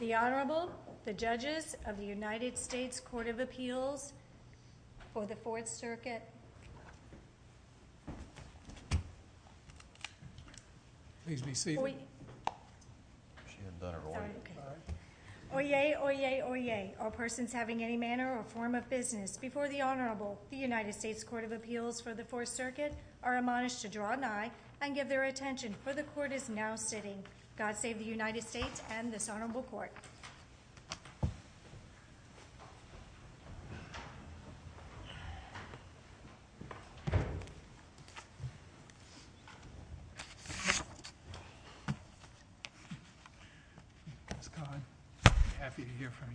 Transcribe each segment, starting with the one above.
The Honorable, the Judges of the United States Court of Appeals for the Fourth Circuit. Please be seated. Oyez, oyez, oyez, all persons having any manner or form of business before the Honorable, the United States Court of Appeals for the Fourth Circuit, are admonished to draw an attention, for the Court is now sitting. God save the United States and this Honorable Court. Ms. Kahn, happy to hear from you.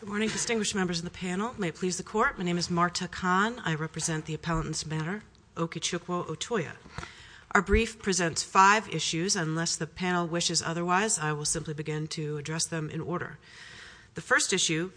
Good morning, distinguished members of the panel. May it please the Court. My name is Marta Kahn. I represent the Appellant's Manor, Okechukwo Otuya. Our brief presents five issues. Unless the panel wishes otherwise, I will simply begin to address them in order. The first issue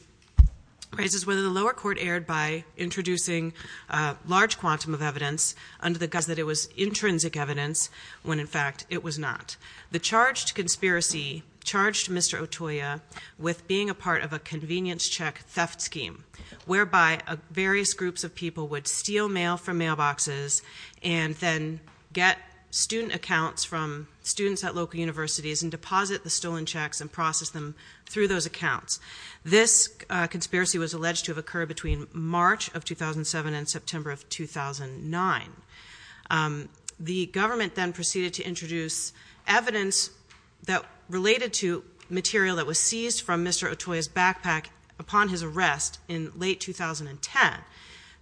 raises whether the lower court erred by introducing a large quantum of evidence under the guise that it was intrinsic evidence, when in fact it was not. The charged conspiracy charged Mr. Otuya with being a part of a convenience check theft scheme, whereby various groups of people would steal mail from mailboxes and then get student accounts from students at local universities and deposit the stolen checks and process them through those accounts. This conspiracy was alleged to have occurred between March of 2007 and September of 2009. The government then proceeded to introduce evidence that related to material that was seized from Mr. Otuya's backpack upon his arrest in late 2010.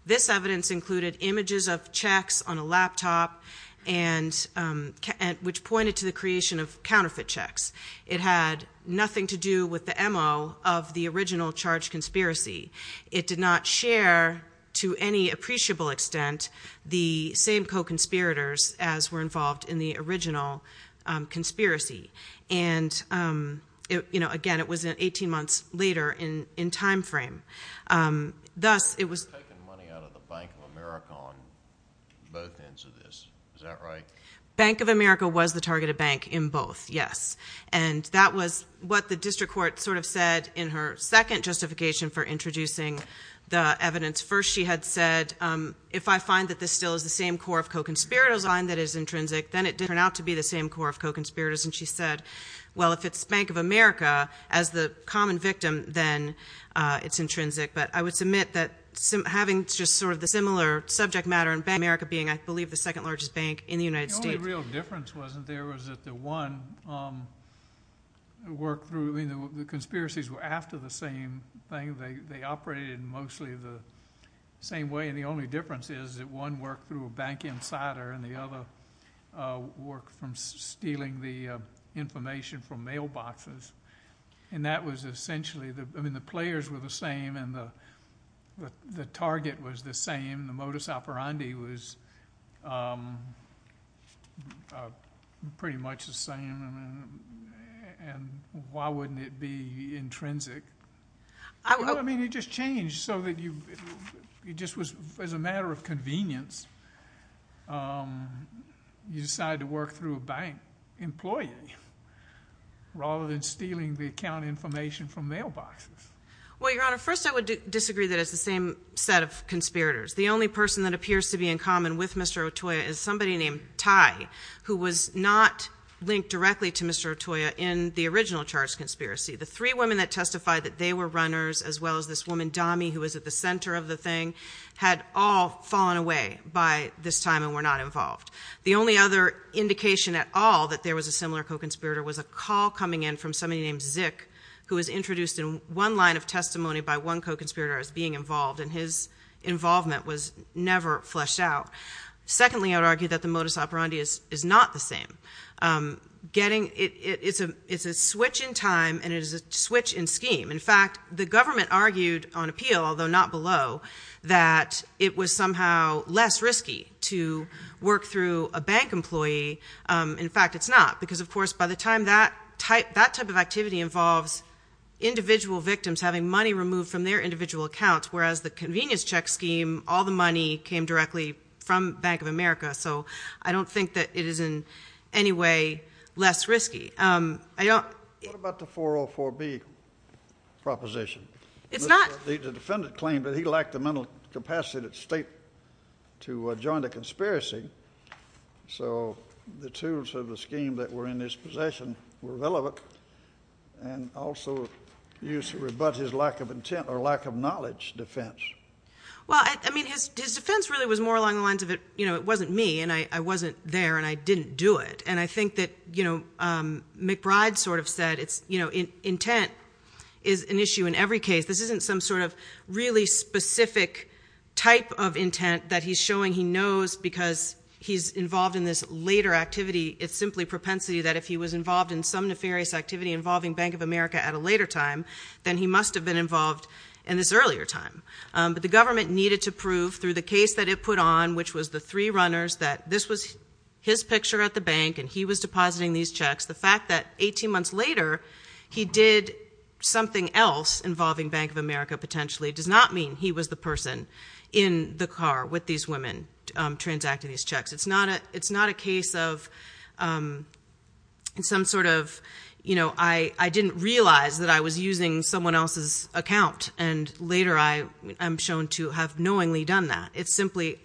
This evidence included images of checks on a laptop, which pointed to the creation of counterfeit checks. It had nothing to do with the MO of the original charged conspiracy. It did not share to any appreciable extent the same co-conspirators as were involved in the original conspiracy. Again, it was 18 months later in time frame. Thus, it was- You're taking money out of the Bank of America on both ends of this. Is that right? Bank of America was the targeted bank in both, yes. That was what the district court sort of said in her second justification for introducing the evidence. First, she had said, if I find that this still is the same core of co-conspirators, then it did turn out to be the same core of co-conspirators. She said, well, if it's Bank of America as the common victim, then it's intrinsic. I would submit that having just sort of the similar subject matter, Bank of America being, I believe, the second largest bank in the United States- The only real difference wasn't there was that the one worked through- The conspiracies were after the same thing. They operated mostly the same way. The only difference is that one worked through a bank insider and the other worked from stealing the information from mailboxes. That was essentially- The players were the same and the target was the same. The modus operandi was pretty much the same. Why wouldn't it be intrinsic? I mean, it just changed so that it just was as a matter of convenience. You decided to work through a bank employee rather than stealing the account information from mailboxes. Well, Your Honor, first I would disagree that it's the same set of conspirators. The only person that appears to be in common with Mr. Otoya is somebody named Ty who was not linked directly to Mr. Otoya in the original charged conspiracy. The three women that testified that they were runners as well as this woman, Dami, who was at the center of the thing had all fallen away by this time and were not involved. The only other indication at all that there was a similar co-conspirator was a call coming in from somebody named Zik who was introduced in one line of testimony by one co-conspirator as being involved and his involvement was never fleshed out. Secondly, I would argue that the modus operandi is not the same. It's a switch in time and it is a switch in scheme. In fact, the government argued on appeal, although not below, that it was somehow less risky to work through a bank employee. In fact, it's not because, of course, by the time that type of activity involves individual victims having money removed from their individual accounts whereas the convenience check scheme, all the money came directly from Bank of America. So I don't think that it is in any way less risky. What about the 404B proposition? The defendant claimed that he lacked the mental capacity of the state to join the conspiracy. So the tools of the scheme that were in his possession were relevant and also used to rebut his lack of intent or lack of knowledge defense. Well, I mean, his defense really was more along the lines of it wasn't me and I wasn't there and I didn't do it. And I think that McBride sort of said intent is an issue in every case. This isn't some sort of really specific type of intent that he's showing he knows because he's involved in this later activity. It's simply propensity that if he was involved in some nefarious activity involving Bank of America at a later time, then he must have been involved in this earlier time. But the government needed to prove through the case that it put on, which was the three runners, that this was his picture at the bank and he was depositing these checks. The fact that 18 months later he did something else involving Bank of America potentially does not mean he was the person in the car with these women transacting these checks. It's not a case of some sort of, you know, I didn't realize that I was using someone else's account and later I am shown to have knowingly done that. It's simply,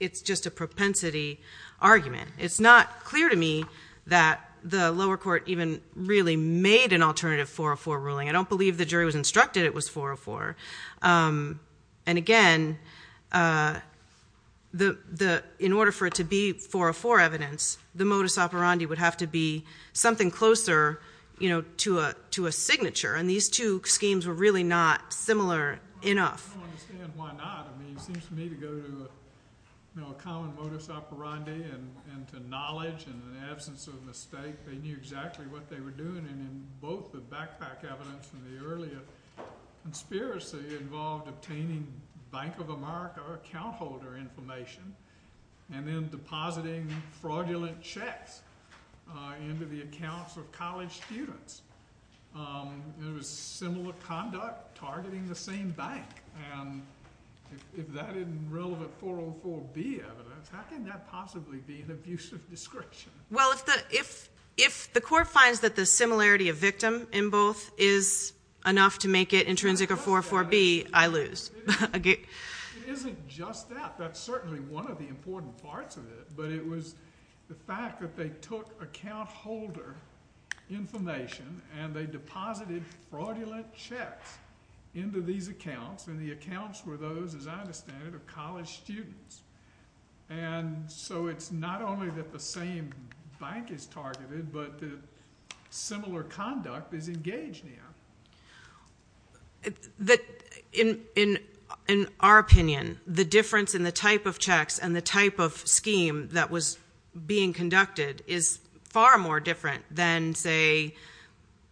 it's just a propensity argument. It's not clear to me that the lower court even really made an alternative 404 ruling. I don't believe the jury was instructed it was 404. And again, in order for it to be 404 evidence, the modus operandi would have to be something closer, you know, to a signature. And these two schemes were really not similar enough. I don't understand why not. I mean, it seems to me to go to a common modus operandi and to knowledge in the absence of mistake. They knew exactly what they were doing. And in both the backpack evidence and the earlier conspiracy involved obtaining Bank of America account holder information and then depositing fraudulent checks into the accounts of college students. There was similar conduct targeting the same bank. And if that isn't relevant 404B evidence, how can that possibly be an abusive description? Well, if the court finds that the similarity of victim in both is enough to make it intrinsic of 404B, I lose. It isn't just that. That's certainly one of the important parts of it. But it was the fact that they took account holder information and they deposited fraudulent checks into these accounts, and the accounts were those, as I understand it, of college students. And so it's not only that the same bank is targeted but that similar conduct is engaged in. In our opinion, the difference in the type of checks and the type of scheme that was being conducted is far more different than, say,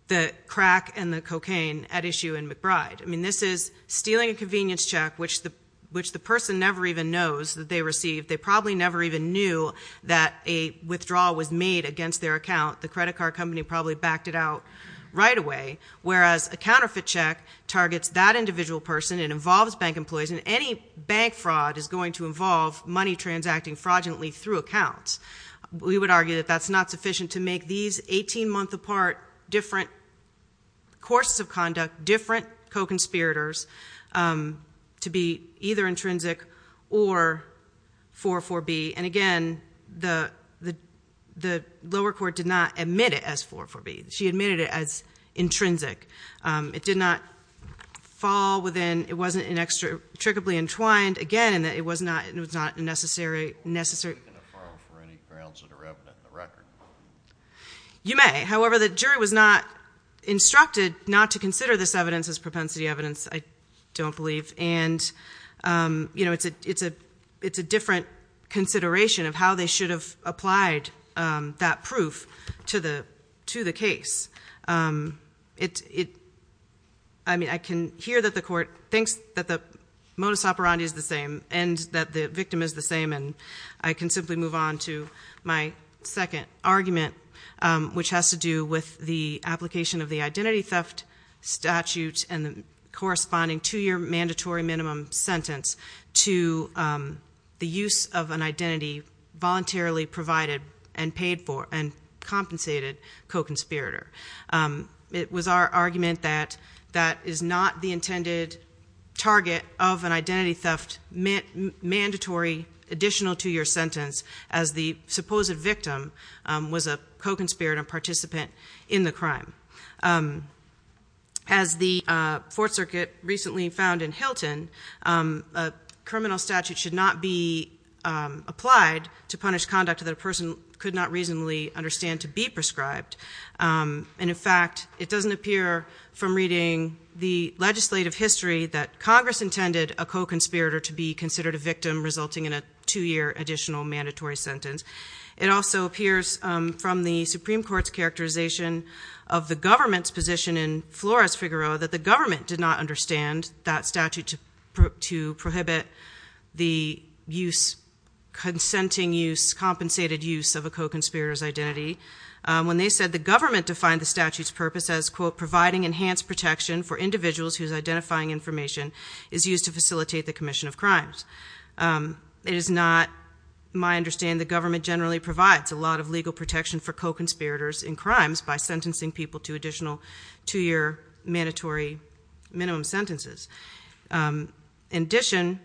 the crack and the cocaine at issue in McBride. I mean, this is stealing a convenience check, which the person never even knows that they received. They probably never even knew that a withdrawal was made against their account. The credit card company probably backed it out right away, whereas a counterfeit check targets that individual person and involves bank employees, and any bank fraud is going to involve money transacting fraudulently through accounts. We would argue that that's not sufficient to make these 18-month apart different courses of conduct, different co-conspirators, to be either intrinsic or 404B. And again, the lower court did not admit it as 404B. She admitted it as intrinsic. It did not fall within. It wasn't inextricably entwined. Again, it was not necessary. You may. However, the jury was not instructed not to consider this evidence as propensity evidence, I don't believe. And, you know, it's a different consideration of how they should have applied that proof to the case. I mean, I can hear that the court thinks that the modus operandi is the same and that the victim is the same, and I can simply move on to my second argument, which has to do with the application of the identity theft statute and the corresponding two-year mandatory minimum sentence to the use of an identity voluntarily provided and paid for and compensated co-conspirator. It was our argument that that is not the intended target of an identity theft mandatory additional two-year sentence as the supposed victim was a co-conspirator participant in the crime. As the Fourth Circuit recently found in Hilton, a criminal statute should not be applied to punish conduct that a person could not reasonably understand to be prescribed. And, in fact, it doesn't appear from reading the legislative history that Congress intended a co-conspirator to be considered a victim, resulting in a two-year additional mandatory sentence. It also appears from the Supreme Court's characterization of the government's position in Flores-Figueroa that the government did not understand that statute to prohibit the consenting use, compensated use, of a co-conspirator's identity when they said the government defined the statute's purpose as, quote, providing enhanced protection for individuals whose identifying information is used to facilitate the commission of crimes. It is not my understanding the government generally provides a lot of legal protection for co-conspirators in crimes by sentencing people to additional two-year mandatory minimum sentences. In addition,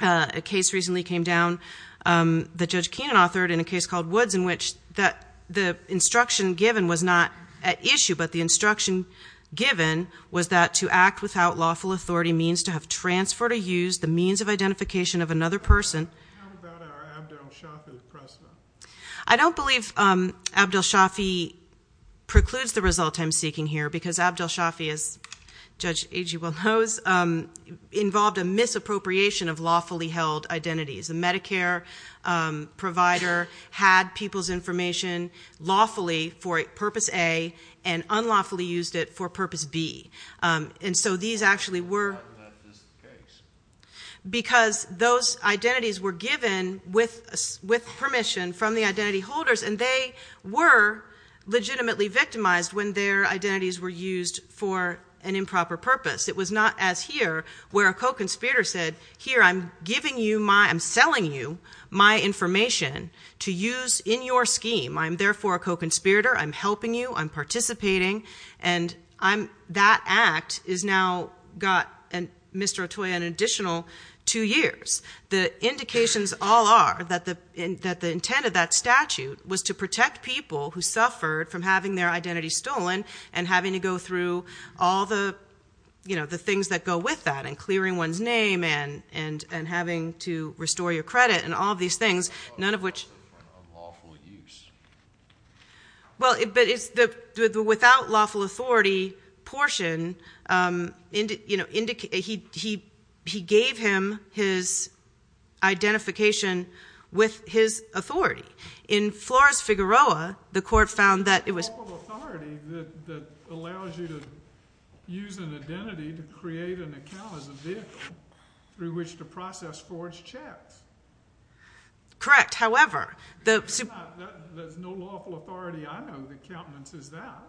a case recently came down that Judge Keenan authored in a case called Woods in which the instruction given was not at issue, but the instruction given was that to act without lawful authority means to have transferred or used the means of identification of another person. I don't believe Abdel Shafi precludes the result I'm seeking here because Abdel Shafi, as Judge Agee well knows, involved a misappropriation of lawfully held identities. A Medicare provider had people's information lawfully for Purpose A and unlawfully used it for Purpose B. And so these actually were... Why was that the case? Because those identities were given with permission from the identity holders and they were legitimately victimized when their identities were used for an improper purpose. It was not as here where a co-conspirator said, here, I'm giving you my, I'm selling you my information to use in your scheme. I'm therefore a co-conspirator. I'm helping you. I'm participating. And that act has now got Mr. Otoya an additional two years. The indications all are that the intent of that statute was to protect people who suffered from having their identities stolen and having to go through all the things that go with that, and clearing one's name and having to restore your credit and all of these things, none of which... Unlawful use. Well, but it's the without lawful authority portion, you know, he gave him his identification with his authority. In Flores-Figueroa, the court found that it was... It's lawful authority that allows you to use an identity to create an account as a vehicle through which to process forged checks. Correct. However, the... There's no lawful authority. I know the countenance is that.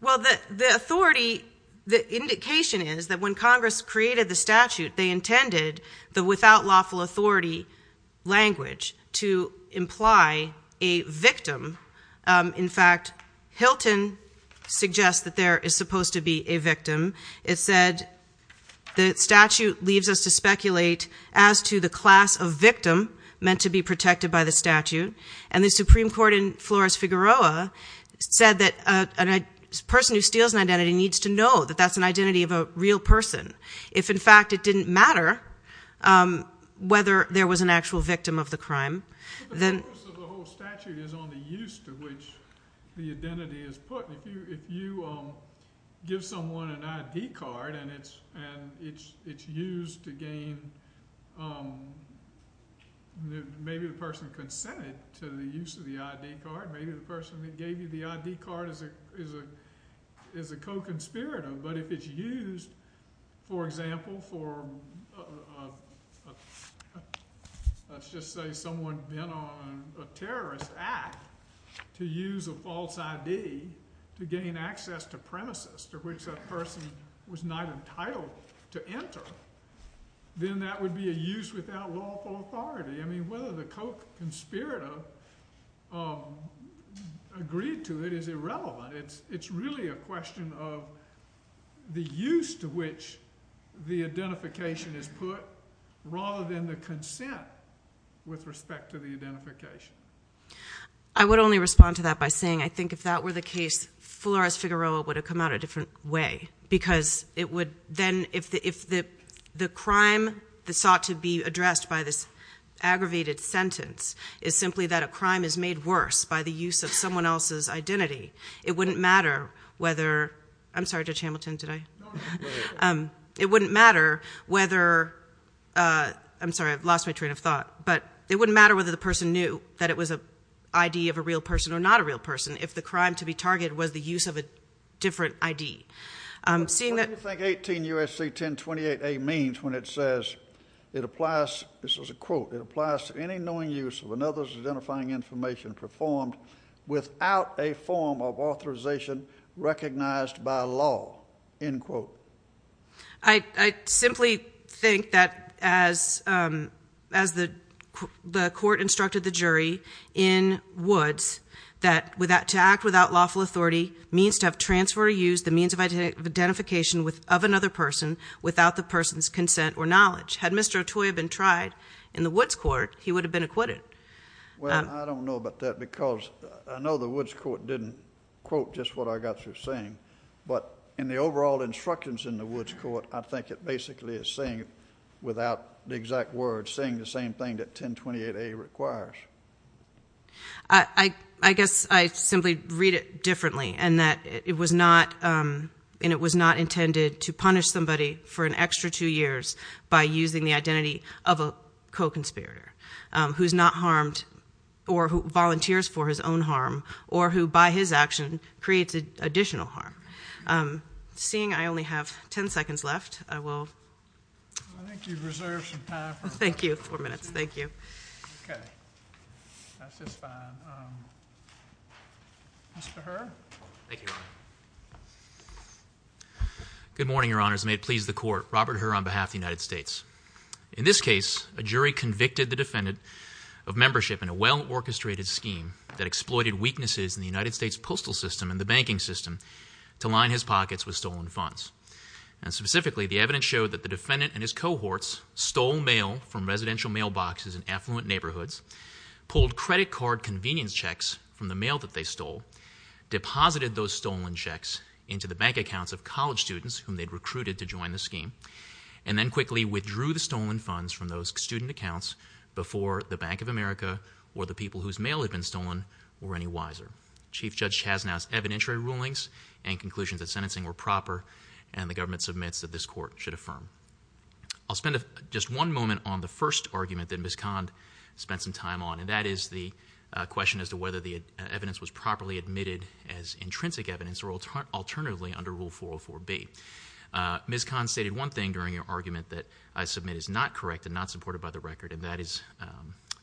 Well, the authority, the indication is that when Congress created the statute, they intended the without lawful authority language to imply a victim. In fact, Hilton suggests that there is supposed to be a victim. It said the statute leaves us to speculate as to the class of victim meant to be protected by the statute, and the Supreme Court in Flores-Figueroa said that a person who steals an identity needs to know that that's an identity of a real person. If, in fact, it didn't matter whether there was an actual victim of the crime, then... But the focus of the whole statute is on the use to which the identity is put. If you give someone an ID card and it's used to gain... Maybe the person consented to the use of the ID card. Maybe the person that gave you the ID card is a co-conspirator. But if it's used, for example, for... Let's just say someone's been on a terrorist act to use a false ID to gain access to premises to which that person was not entitled to enter, then that would be a use without lawful authority. I mean, whether the co-conspirator agreed to it is irrelevant. It's really a question of the use to which the identification is put rather than the consent with respect to the identification. I would only respond to that by saying I think if that were the case, Flores-Figueroa would have come out a different way because it would then... If the crime that sought to be addressed by this aggravated sentence is simply that a crime is made worse by the use of someone else's identity, it wouldn't matter whether... I'm sorry, Judge Hamilton, did I...? It wouldn't matter whether... I'm sorry, I've lost my train of thought. But it wouldn't matter whether the person knew that it was an ID of a real person or not a real person if the crime to be targeted was the use of a different ID. What do you think 18 U.S.C. 1028a means when it says it applies... This is a quote. It applies to any knowing use of another's identifying information performed without a form of authorization recognized by law. End quote. I simply think that as the court instructed the jury in Woods that to act without lawful authority means to have transferred or used the means of identification of another person without the person's consent or knowledge. Had Mr. Otoi been tried in the Woods court, he would have been acquitted. Well, I don't know about that because I know the Woods court didn't quote just what I got through saying, but in the overall instructions in the Woods court, I think it basically is saying it without the exact words, saying the same thing that 1028a requires. I guess I simply read it differently in that it was not intended to punish somebody for an extra two years by using the identity of a co-conspirator who's not harmed or who volunteers for his own harm or who by his action creates additional harm. Seeing I only have 10 seconds left, I will... I think you've reserved some time for... Thank you. Four minutes. Thank you. Okay. That's just fine. Mr. Herr? Thank you, Your Honor. Good morning, Your Honors. May it please the court. Robert Herr on behalf of the United States. In this case, a jury convicted the defendant of membership in a well-orchestrated scheme that exploited weaknesses in the United States postal system and the banking system to line his pockets with stolen funds. And specifically, the evidence showed that the defendant and his cohorts stole mail from residential mailboxes in affluent neighborhoods, pulled credit card convenience checks from the mail that they stole, deposited those stolen checks into the bank accounts of college students whom they'd recruited to join the scheme, and then quickly withdrew the stolen funds from those student accounts before the Bank of America or the people whose mail had been stolen were any wiser. Chief Judge Chasnow's evidentiary rulings and conclusions at sentencing were proper and the government submits that this court should affirm. I'll spend just one moment on the first argument that Ms. Kahn spent some time on, and that is the question as to whether the evidence was properly admitted as intrinsic evidence or alternatively under Rule 404B. Ms. Kahn stated one thing during her argument that I submit is not correct and not supported by the record, and that is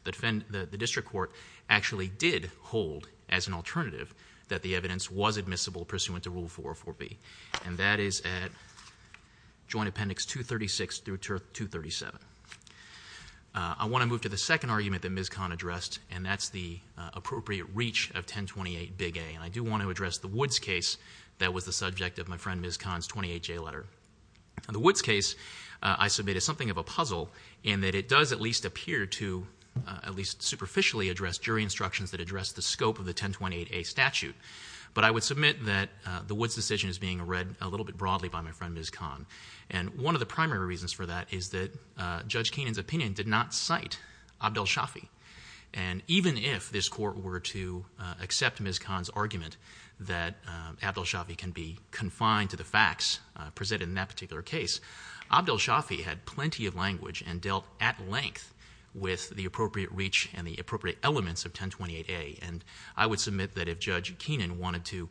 the district court actually did hold, as an alternative, that the evidence was admissible pursuant to Rule 404B. And that is at Joint Appendix 236 through 237. I want to move to the second argument that Ms. Kahn addressed, and that's the appropriate reach of 1028A. And I do want to address the Woods case that was the subject of my friend Ms. Kahn's 28J letter. The Woods case, I submit, is something of a puzzle in that it does at least appear to at least superficially address jury instructions that address the scope of the 1028A statute. But I would submit that the Woods decision is being read a little bit broadly by my friend Ms. Kahn. And one of the primary reasons for that is that Judge Keenan's opinion did not cite Abdel Shafi. And even if this court were to accept Ms. Kahn's argument that Abdel Shafi can be confined to the facts presented in that particular case, Abdel Shafi had plenty of language and dealt at length with the appropriate reach and the appropriate elements of 1028A. And I would submit that if Judge Keenan wanted to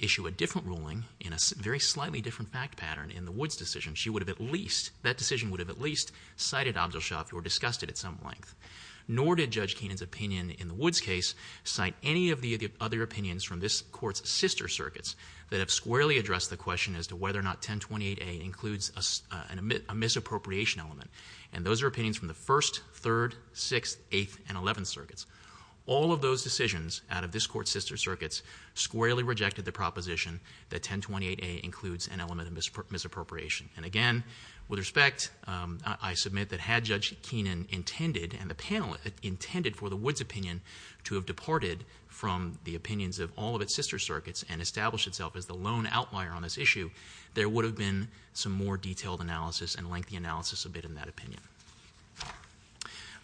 issue a different ruling in a very slightly different fact pattern in the Woods decision, she would have at least, that decision would have at least cited Abdel Shafi or discussed it at some length. Nor did Judge Keenan's opinion in the Woods case cite any of the other opinions from this court's sister circuits that have squarely addressed the question as to whether or not 1028A includes a misappropriation element. And those are opinions from the First, Third, Sixth, Eighth, and Eleventh circuits. All of those decisions out of this court's sister circuits squarely rejected the proposition that 1028A includes an element of misappropriation. And again, with respect, I submit that had Judge Keenan intended, and the panel intended for the Woods opinion to have departed from the opinions of all of its sister circuits and established itself as the lone outlier on this issue, there would have been some more detailed analysis and lengthy analysis of it in that opinion.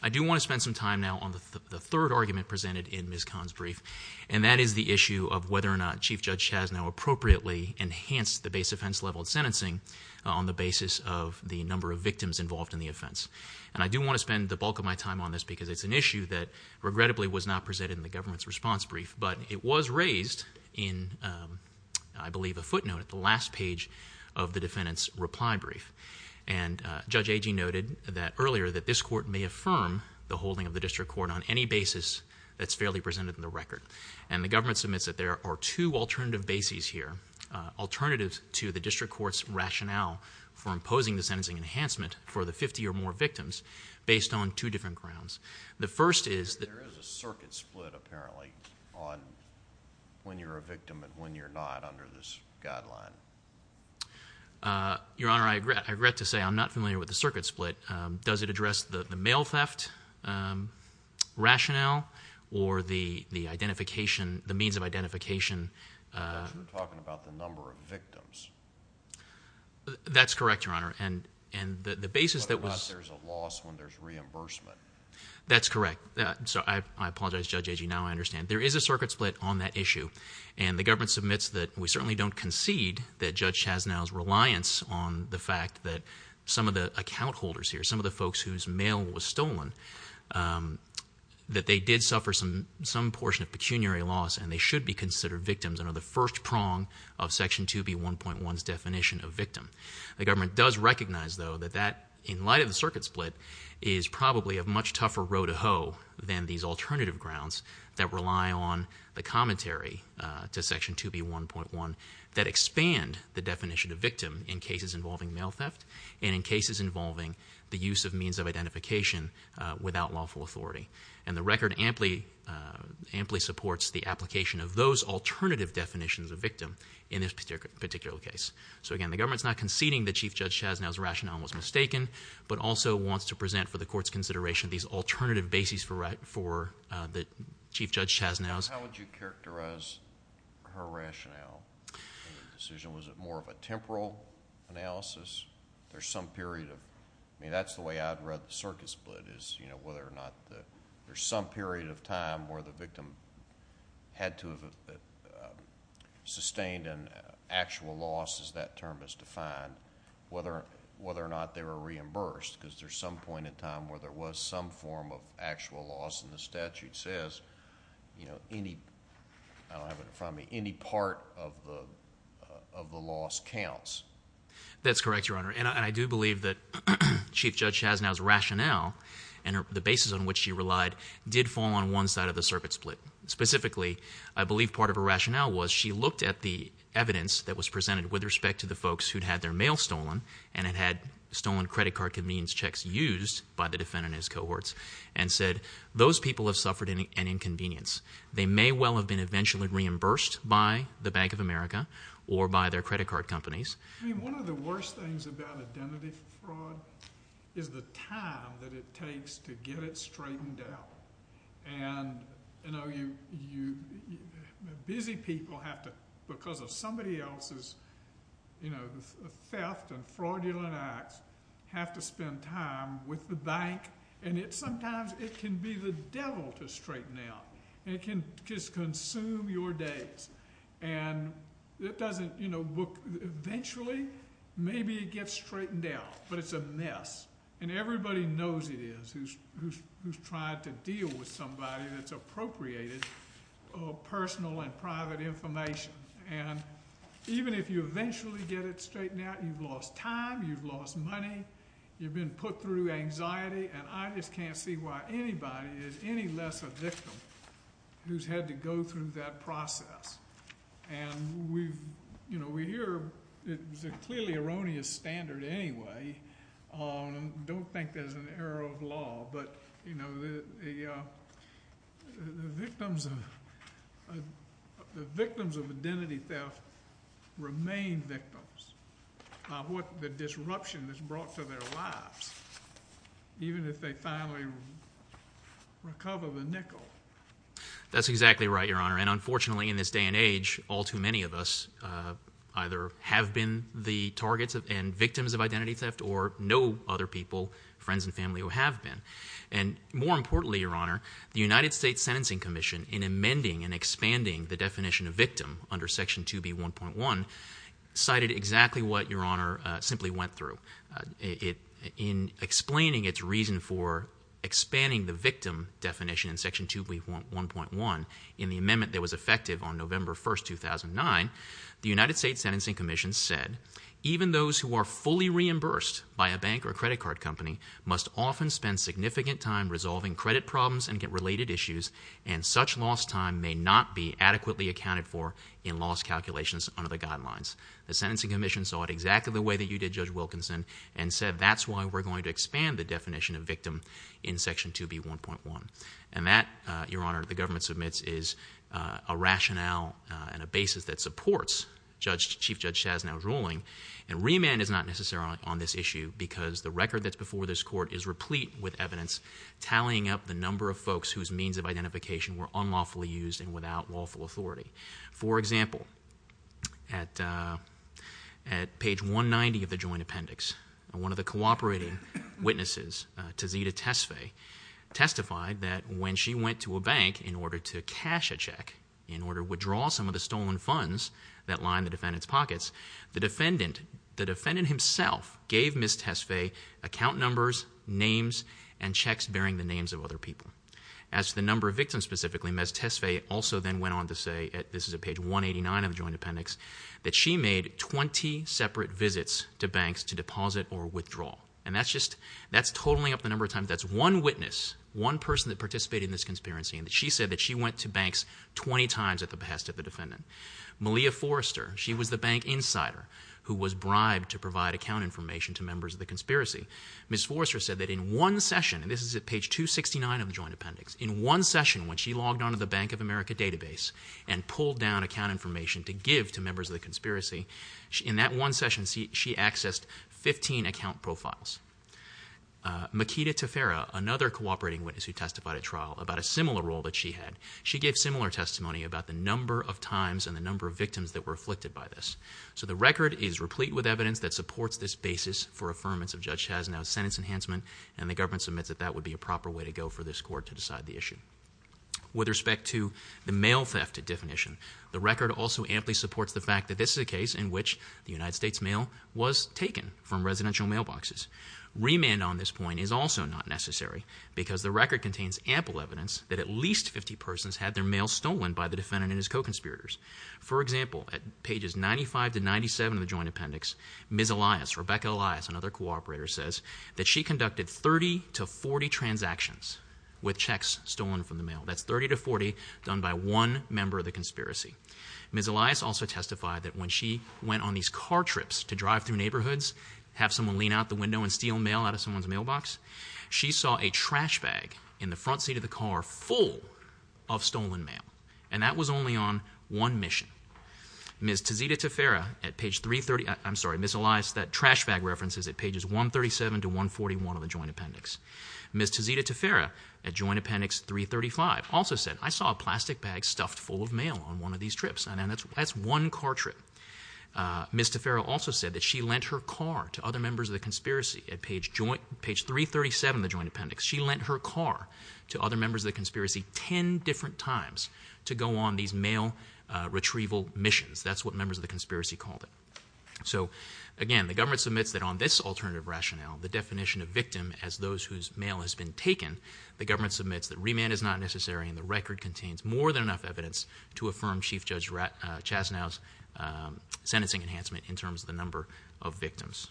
I do want to spend some time now on the third argument presented in Ms. Kahn's brief, and that is the issue of whether or not Chief Judge Chaznow appropriately enhanced the base offense leveled sentencing on the basis of the number of victims involved in the offense. And I do want to spend the bulk of my time on this because it's an issue that, regrettably, was not presented in the government's response brief, but it was raised in, I believe, a footnote at the last page of the defendant's reply brief. And Judge Agee noted that earlier that this court may affirm the holding of the district court on any basis that's fairly presented in the record. And the government submits that there are two alternative bases here, alternatives to the district court's rationale for imposing the sentencing enhancement for the 50 or more victims based on two different grounds. The first is that... There is a circuit split, apparently, on when you're a victim and when you're not under this guideline. Your Honor, I regret to say I'm not familiar with the circuit split. Does it address the mail theft rationale or the identification, the means of identification? Because you're talking about the number of victims. That's correct, Your Honor, and the basis that was... Whether or not there's a loss when there's reimbursement. That's correct. I apologize, Judge Agee, now I understand. There is a circuit split on that issue, and the government submits that we certainly don't concede that Judge Chasnow's reliance on the fact that some of the account holders here, some of the folks whose mail was stolen, that they did suffer some portion of pecuniary loss and they should be considered victims under the first prong of Section 2B1.1's definition of victim. The government does recognize, though, that that, in light of the circuit split, is probably a much tougher row to hoe than these alternative grounds that rely on the commentary to Section 2B1.1 that expand the definition of victim in cases involving mail theft and in cases involving the use of means of identification without lawful authority. And the record amply supports the application of those alternative definitions of victim in this particular case. So again, the government's not conceding that Chief Judge Chasnow's rationale was mistaken, but also wants to present for the Court's consideration these alternative bases for the Chief Judge Chasnow's. How would you characterize her rationale in the decision? Was it more of a temporal analysis? There's some period of, I mean, that's the way I'd read the circuit split, is whether or not there's some period of time where the victim had to have sustained an actual loss, as that term is defined, whether or not they were reimbursed, because there's some point in time where there was some form of actual loss, and the statute says, you know, any, I don't have it in front of me, any part of the loss counts. That's correct, Your Honor, and I do believe that Chief Judge Chasnow's rationale and the bases on which she relied did fall on one side of the circuit split. Specifically, I believe part of her rationale was she looked at the evidence that was presented with respect to the folks who'd had their mail stolen, and had stolen credit card convenience checks used by the defendant and his cohorts, and said, those people have suffered an inconvenience. They may well have been eventually reimbursed by the Bank of America or by their credit card companies. I mean, one of the worst things about identity fraud is the time that it takes to get it straightened out. And, you know, busy people have to, because of somebody else's, you know, theft and fraudulent acts, have to spend time with the bank, and sometimes it can be the devil to straighten out. It can just consume your days, and it doesn't, you know, eventually, maybe it gets straightened out, but it's a mess. And everybody knows it is who's tried to deal with somebody that's appropriated personal and private information. And even if you eventually get it straightened out, you've lost time, you've lost money, you've been put through anxiety, and I just can't see why anybody is any less a victim who's had to go through that process. And we, you know, we hear it's a clearly erroneous standard anyway, and don't think there's an error of law, but, you know, the victims of identity theft remain victims of what the disruption has brought to their lives, even if they finally recover the nickel. That's exactly right, Your Honor, and unfortunately in this day and age, all too many of us either have been the targets and victims of identity theft, or know other people, friends and family, who have been. And more importantly, Your Honor, the United States Sentencing Commission, in amending and expanding the definition of victim under Section 2B1.1, cited exactly what Your Honor simply went through. In explaining its reason for expanding the victim definition in Section 2B1.1, in the amendment that was effective on November 1st, 2009, the United States Sentencing Commission said, even those who are fully reimbursed by a bank or credit card company must often spend significant time resolving credit problems and related issues, and such lost time may not be adequately accounted for in loss calculations under the guidelines. The Sentencing Commission saw it exactly the way that you did, Judge Wilkinson, and said, that's why we're going to expand the definition of victim in Section 2B1.1. And that, Your Honor, the government submits is a rationale and a basis that supports Chief Judge Chasnow's ruling. And remand is not necessarily on this issue, because the record that's before this court is replete with evidence tallying up the number of folks whose means of identification were unlawfully used and without lawful authority. For example, at page 190 of the Joint Appendix, one of the cooperating witnesses, Tazita Tesfaye, testified that when she went to a bank in order to cash a check, in order to withdraw some of the stolen funds that lined the defendant's pockets, the defendant himself gave Ms. Tesfaye account numbers, names, and checks bearing the names of other people. As to the number of victims specifically, Ms. Tesfaye also then went on to say, this is at page 189 of the Joint Appendix, that she made 20 separate visits to banks to deposit or withdraw. And that's just, that's totaling up the number of times, that's one witness, one person that participated in this conspiracy, and she said that she went to banks 20 times at the behest of the defendant. Malia Forrester, she was the bank insider who was bribed to provide account information to members of the conspiracy. Ms. Forrester said that in one session, and this is at page 269 of the Joint Appendix, in one session when she logged on to the Bank of America database and pulled down account information to give to members of the conspiracy, in that one session she accessed 15 account profiles. Makeda Tefera, another cooperating witness who testified at trial, about a similar role that she had, she gave similar testimony about the number of times and the number of victims that were afflicted by this. So the record is replete with evidence that supports this basis for affirmance of Judge Chazenow's sentence enhancement, and the government submits that that would be a proper way to go for this court to decide the issue. With respect to the mail theft definition, the record also amply supports the fact that this is a case in which the United States mail was taken from residential mailboxes. Remand on this point is also not necessary because the record contains ample evidence that at least 50 persons had their mail stolen by the defendant and his co-conspirators. For example, at pages 95 to 97 of the Joint Appendix, Ms. Elias, Rebecca Elias, another co-operator, says that she conducted 30 to 40 transactions with checks stolen from the mail. That's 30 to 40 done by one member of the conspiracy. Ms. Elias also testified that when she went on these car trips to drive through neighborhoods, have someone lean out the window and steal mail out of someone's mailbox, she saw a trash bag in the front seat of the car full of stolen mail, and that was only on one mission. Ms. Tazita Taffera at page 330... I'm sorry, Ms. Elias, that trash bag reference is at pages 137 to 141 of the Joint Appendix. Ms. Tazita Taffera at Joint Appendix 335 also said, I saw a plastic bag stuffed full of mail on one of these trips, and that's one car trip. Ms. Taffera also said that she lent her car to other members of the conspiracy. At page 337 of the Joint Appendix, she lent her car to other members of the conspiracy 10 different times to go on these mail retrieval missions. That's what members of the conspiracy called it. So, again, the government submits that on this alternative rationale, the definition of victim as those whose mail has been taken, the government submits that remand is not necessary and the record contains more than enough evidence to affirm Chief Judge Chastanow's sentencing enhancement in terms of the number of victims.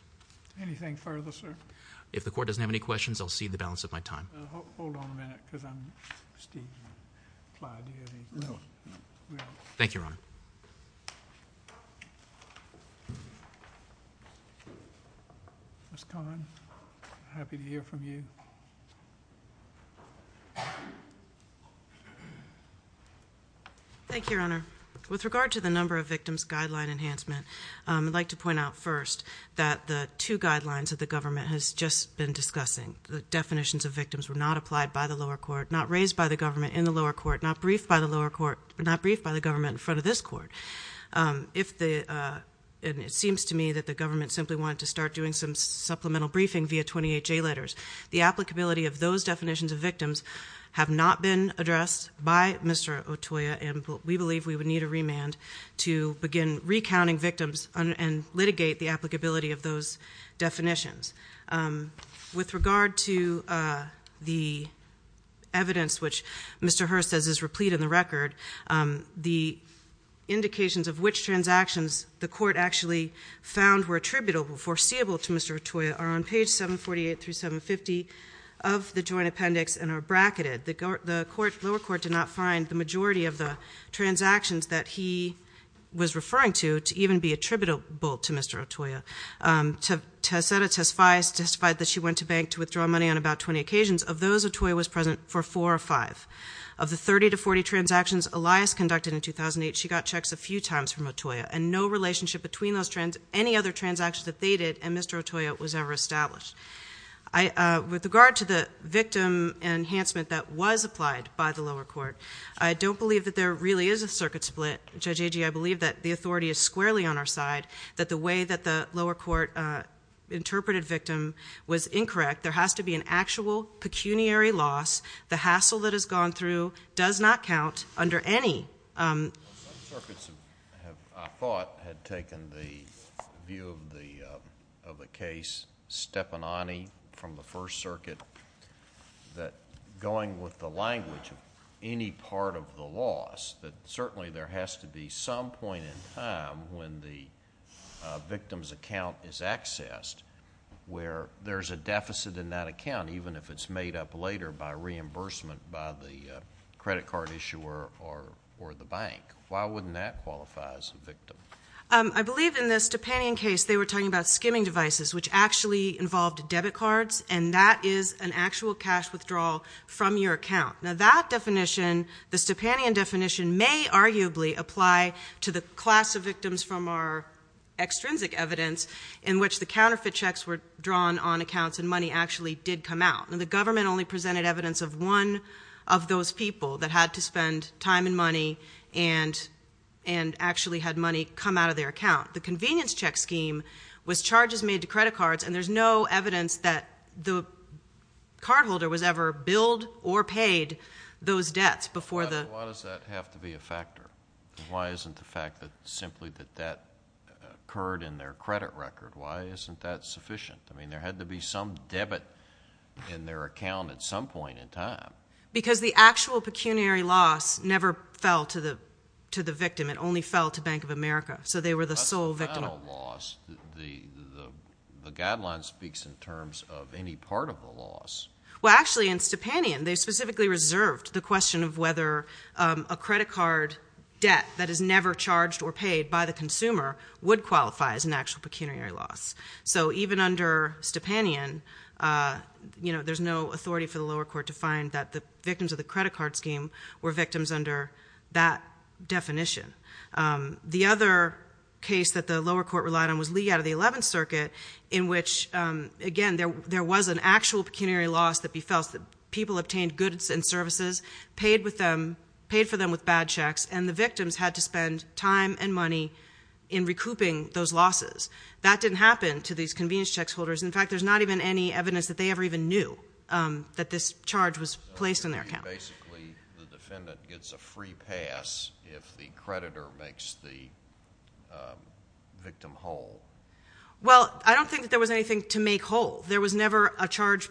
Anything further, sir? If the Court doesn't have any questions, I'll cede the balance of my time. Hold on a minute, because I'm... Clyde, do you have anything? Thank you, Your Honor. Ms. Cahn, happy to hear from you. Thank you, Your Honor. With regard to the number of victims guideline enhancement, I'd like to point out first that the two guidelines that the government has just been discussing, the definitions of victims, were not applied by the lower court, not raised by the government in the lower court, not briefed by the lower court, not briefed by the government in front of this Court. If the...and it seems to me that the government simply wanted to start doing some supplemental briefing via 28 J letters. The applicability of those definitions of victims have not been addressed by Mr. Otoya and we believe we would need a remand to begin recounting victims and litigate the applicability of those definitions. With regard to the evidence which Mr. Hurst says is replete in the record, the indications of which transactions the Court actually found were attributable, foreseeable to Mr. Otoya, are on page 748 through 750 of the joint appendix and are bracketed. The lower court did not find the majority of the transactions that he was referring to to even be attributable to Mr. Otoya. Tessetta Tesfaye testified that she went to bank to withdraw money on about 20 occasions. Of those, Otoya was present for four or five. Of the 30 to 40 transactions Elias conducted in 2008, she got checks a few times from Otoya and no relationship between any other transactions that they did and Mr. Otoya was ever established. With regard to the victim enhancement that was applied by the lower court, I don't believe that there really is a circuit split. Judge Agee, I believe that the authority is squarely on our side, that the way that the lower court interpreted victim was incorrect. There has to be an actual pecuniary loss. The hassle that has gone through does not count under any... Some circuits, I thought, had taken the view of the case from the First Circuit that going with the language of any part of the loss, that certainly there has to be some point in time when the victim's account is accessed where there's a deficit in that account, even if it's made up later by reimbursement by the credit card issuer or the bank. Why wouldn't that qualify as a victim? I believe in this Topanian case they were talking about skimming devices, which actually involved debit cards, and that is an actual cash withdrawal from your account. That definition, the Topanian definition, may arguably apply to the class of victims from our extrinsic evidence in which the counterfeit checks were drawn on accounts and money actually did come out. The government only presented evidence of one of those people that had to spend time and money and actually had money come out of their account. The convenience check scheme was charges made to credit cards, and there's no evidence that the cardholder was ever billed or paid those debts before the... Why does that have to be a factor? Why isn't the fact that simply that that occurred in their credit record, why isn't that sufficient? I mean, there had to be some debit in their account at some point in time. Because the actual pecuniary loss never fell to the victim. It only fell to Bank of America. So they were the sole victim. That's not a loss. The guideline speaks in terms of any part of the loss. Well, actually, in Stepanian, they specifically reserved the question of whether a credit card debt that is never charged or paid by the consumer would qualify as an actual pecuniary loss. So even under Stepanian, you know, there's no authority for the lower court to find that the victims of the credit card scheme were victims under that definition. The other case that the lower court relied on was Lee out of the 11th Circuit, in which, again, there was an actual pecuniary loss that befell. People obtained goods and services, paid for them with bad checks, and the victims had to spend time and money in recouping those losses. That didn't happen to these convenience checks holders. In fact, there's not even any evidence that they ever even knew that this charge was placed in their account. So basically the defendant gets a free pass if the creditor makes the victim whole. Well, I don't think that there was anything to make whole. There was never a charge.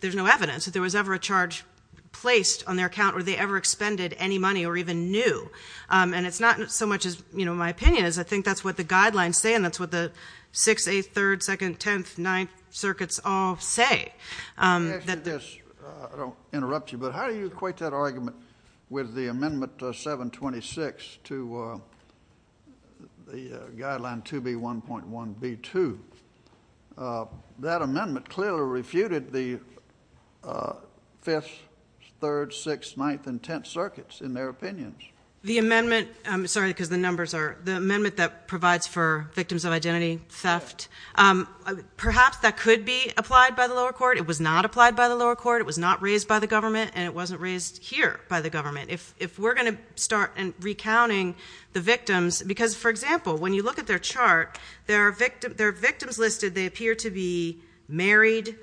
There's no evidence that there was ever a charge placed on their account or they ever expended any money or even knew. And it's not so much as, you know, my opinion is. I think that's what the guidelines say, and that's what the 6th, 8th, 3rd, 2nd, 10th, 9th Circuits all say. Let me ask you this. I don't want to interrupt you, but how do you equate that argument with the Amendment 726 to the guideline 2B1.1b2? That amendment clearly refuted the 5th, 3rd, 6th, 9th, and 10th Circuits in their opinions. The amendment – I'm sorry because the numbers are – the amendment that provides for victims of identity theft, perhaps that could be applied by the lower court. It was not applied by the lower court. It was not raised by the government, and it wasn't raised here by the government. If we're going to start recounting the victims because, for example, when you look at their chart, there are victims listed. They appear to be married.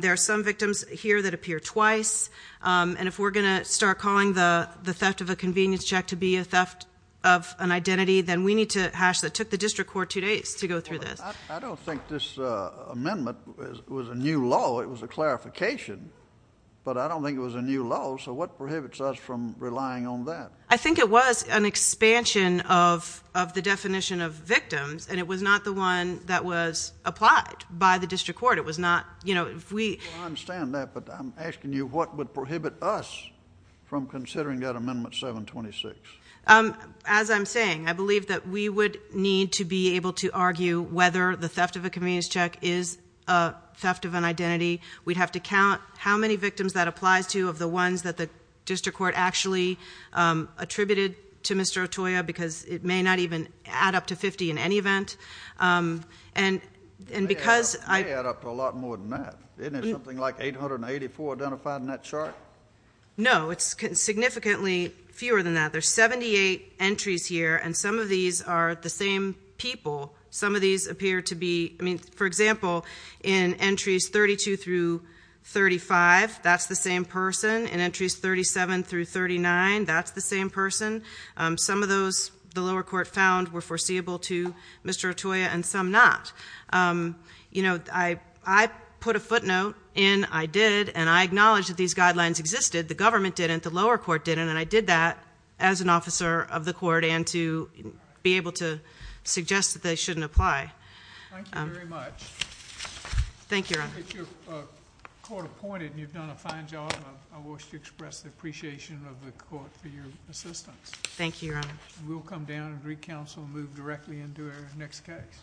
There are some victims here that appear twice. And if we're going to start calling the theft of a convenience check to be a theft of an identity, then we need to hash that. It took the district court two days to go through this. I don't think this amendment was a new law. It was a clarification, but I don't think it was a new law. So what prohibits us from relying on that? I think it was an expansion of the definition of victims, and it was not the one that was applied by the district court. It was not – you know, if we – I understand that, but I'm asking you what would prohibit us from considering that Amendment 726. As I'm saying, I believe that we would need to be able to argue whether the theft of a convenience check is a theft of an identity. We'd have to count how many victims that applies to of the ones that the district court actually attributed to Mr. Otoya because it may not even add up to 50 in any event. And because I – It may add up to a lot more than that. Isn't there something like 884 identified in that chart? No, it's significantly fewer than that. There's 78 entries here, and some of these are the same people. Some of these appear to be – I mean, for example, in entries 32 through 35, that's the same person. In entries 37 through 39, that's the same person. Some of those the lower court found were foreseeable to Mr. Otoya and some not. You know, I put a footnote in. I did, and I acknowledged that these guidelines existed. The government didn't. The lower court didn't. And I did that as an officer of the court and to be able to suggest that they shouldn't apply. Thank you very much. Thank you, Your Honor. If you're court-appointed and you've done a fine job, I wish to express the appreciation of the court for your assistance. Thank you, Your Honor. We'll come down and recounsel and move directly into our next case.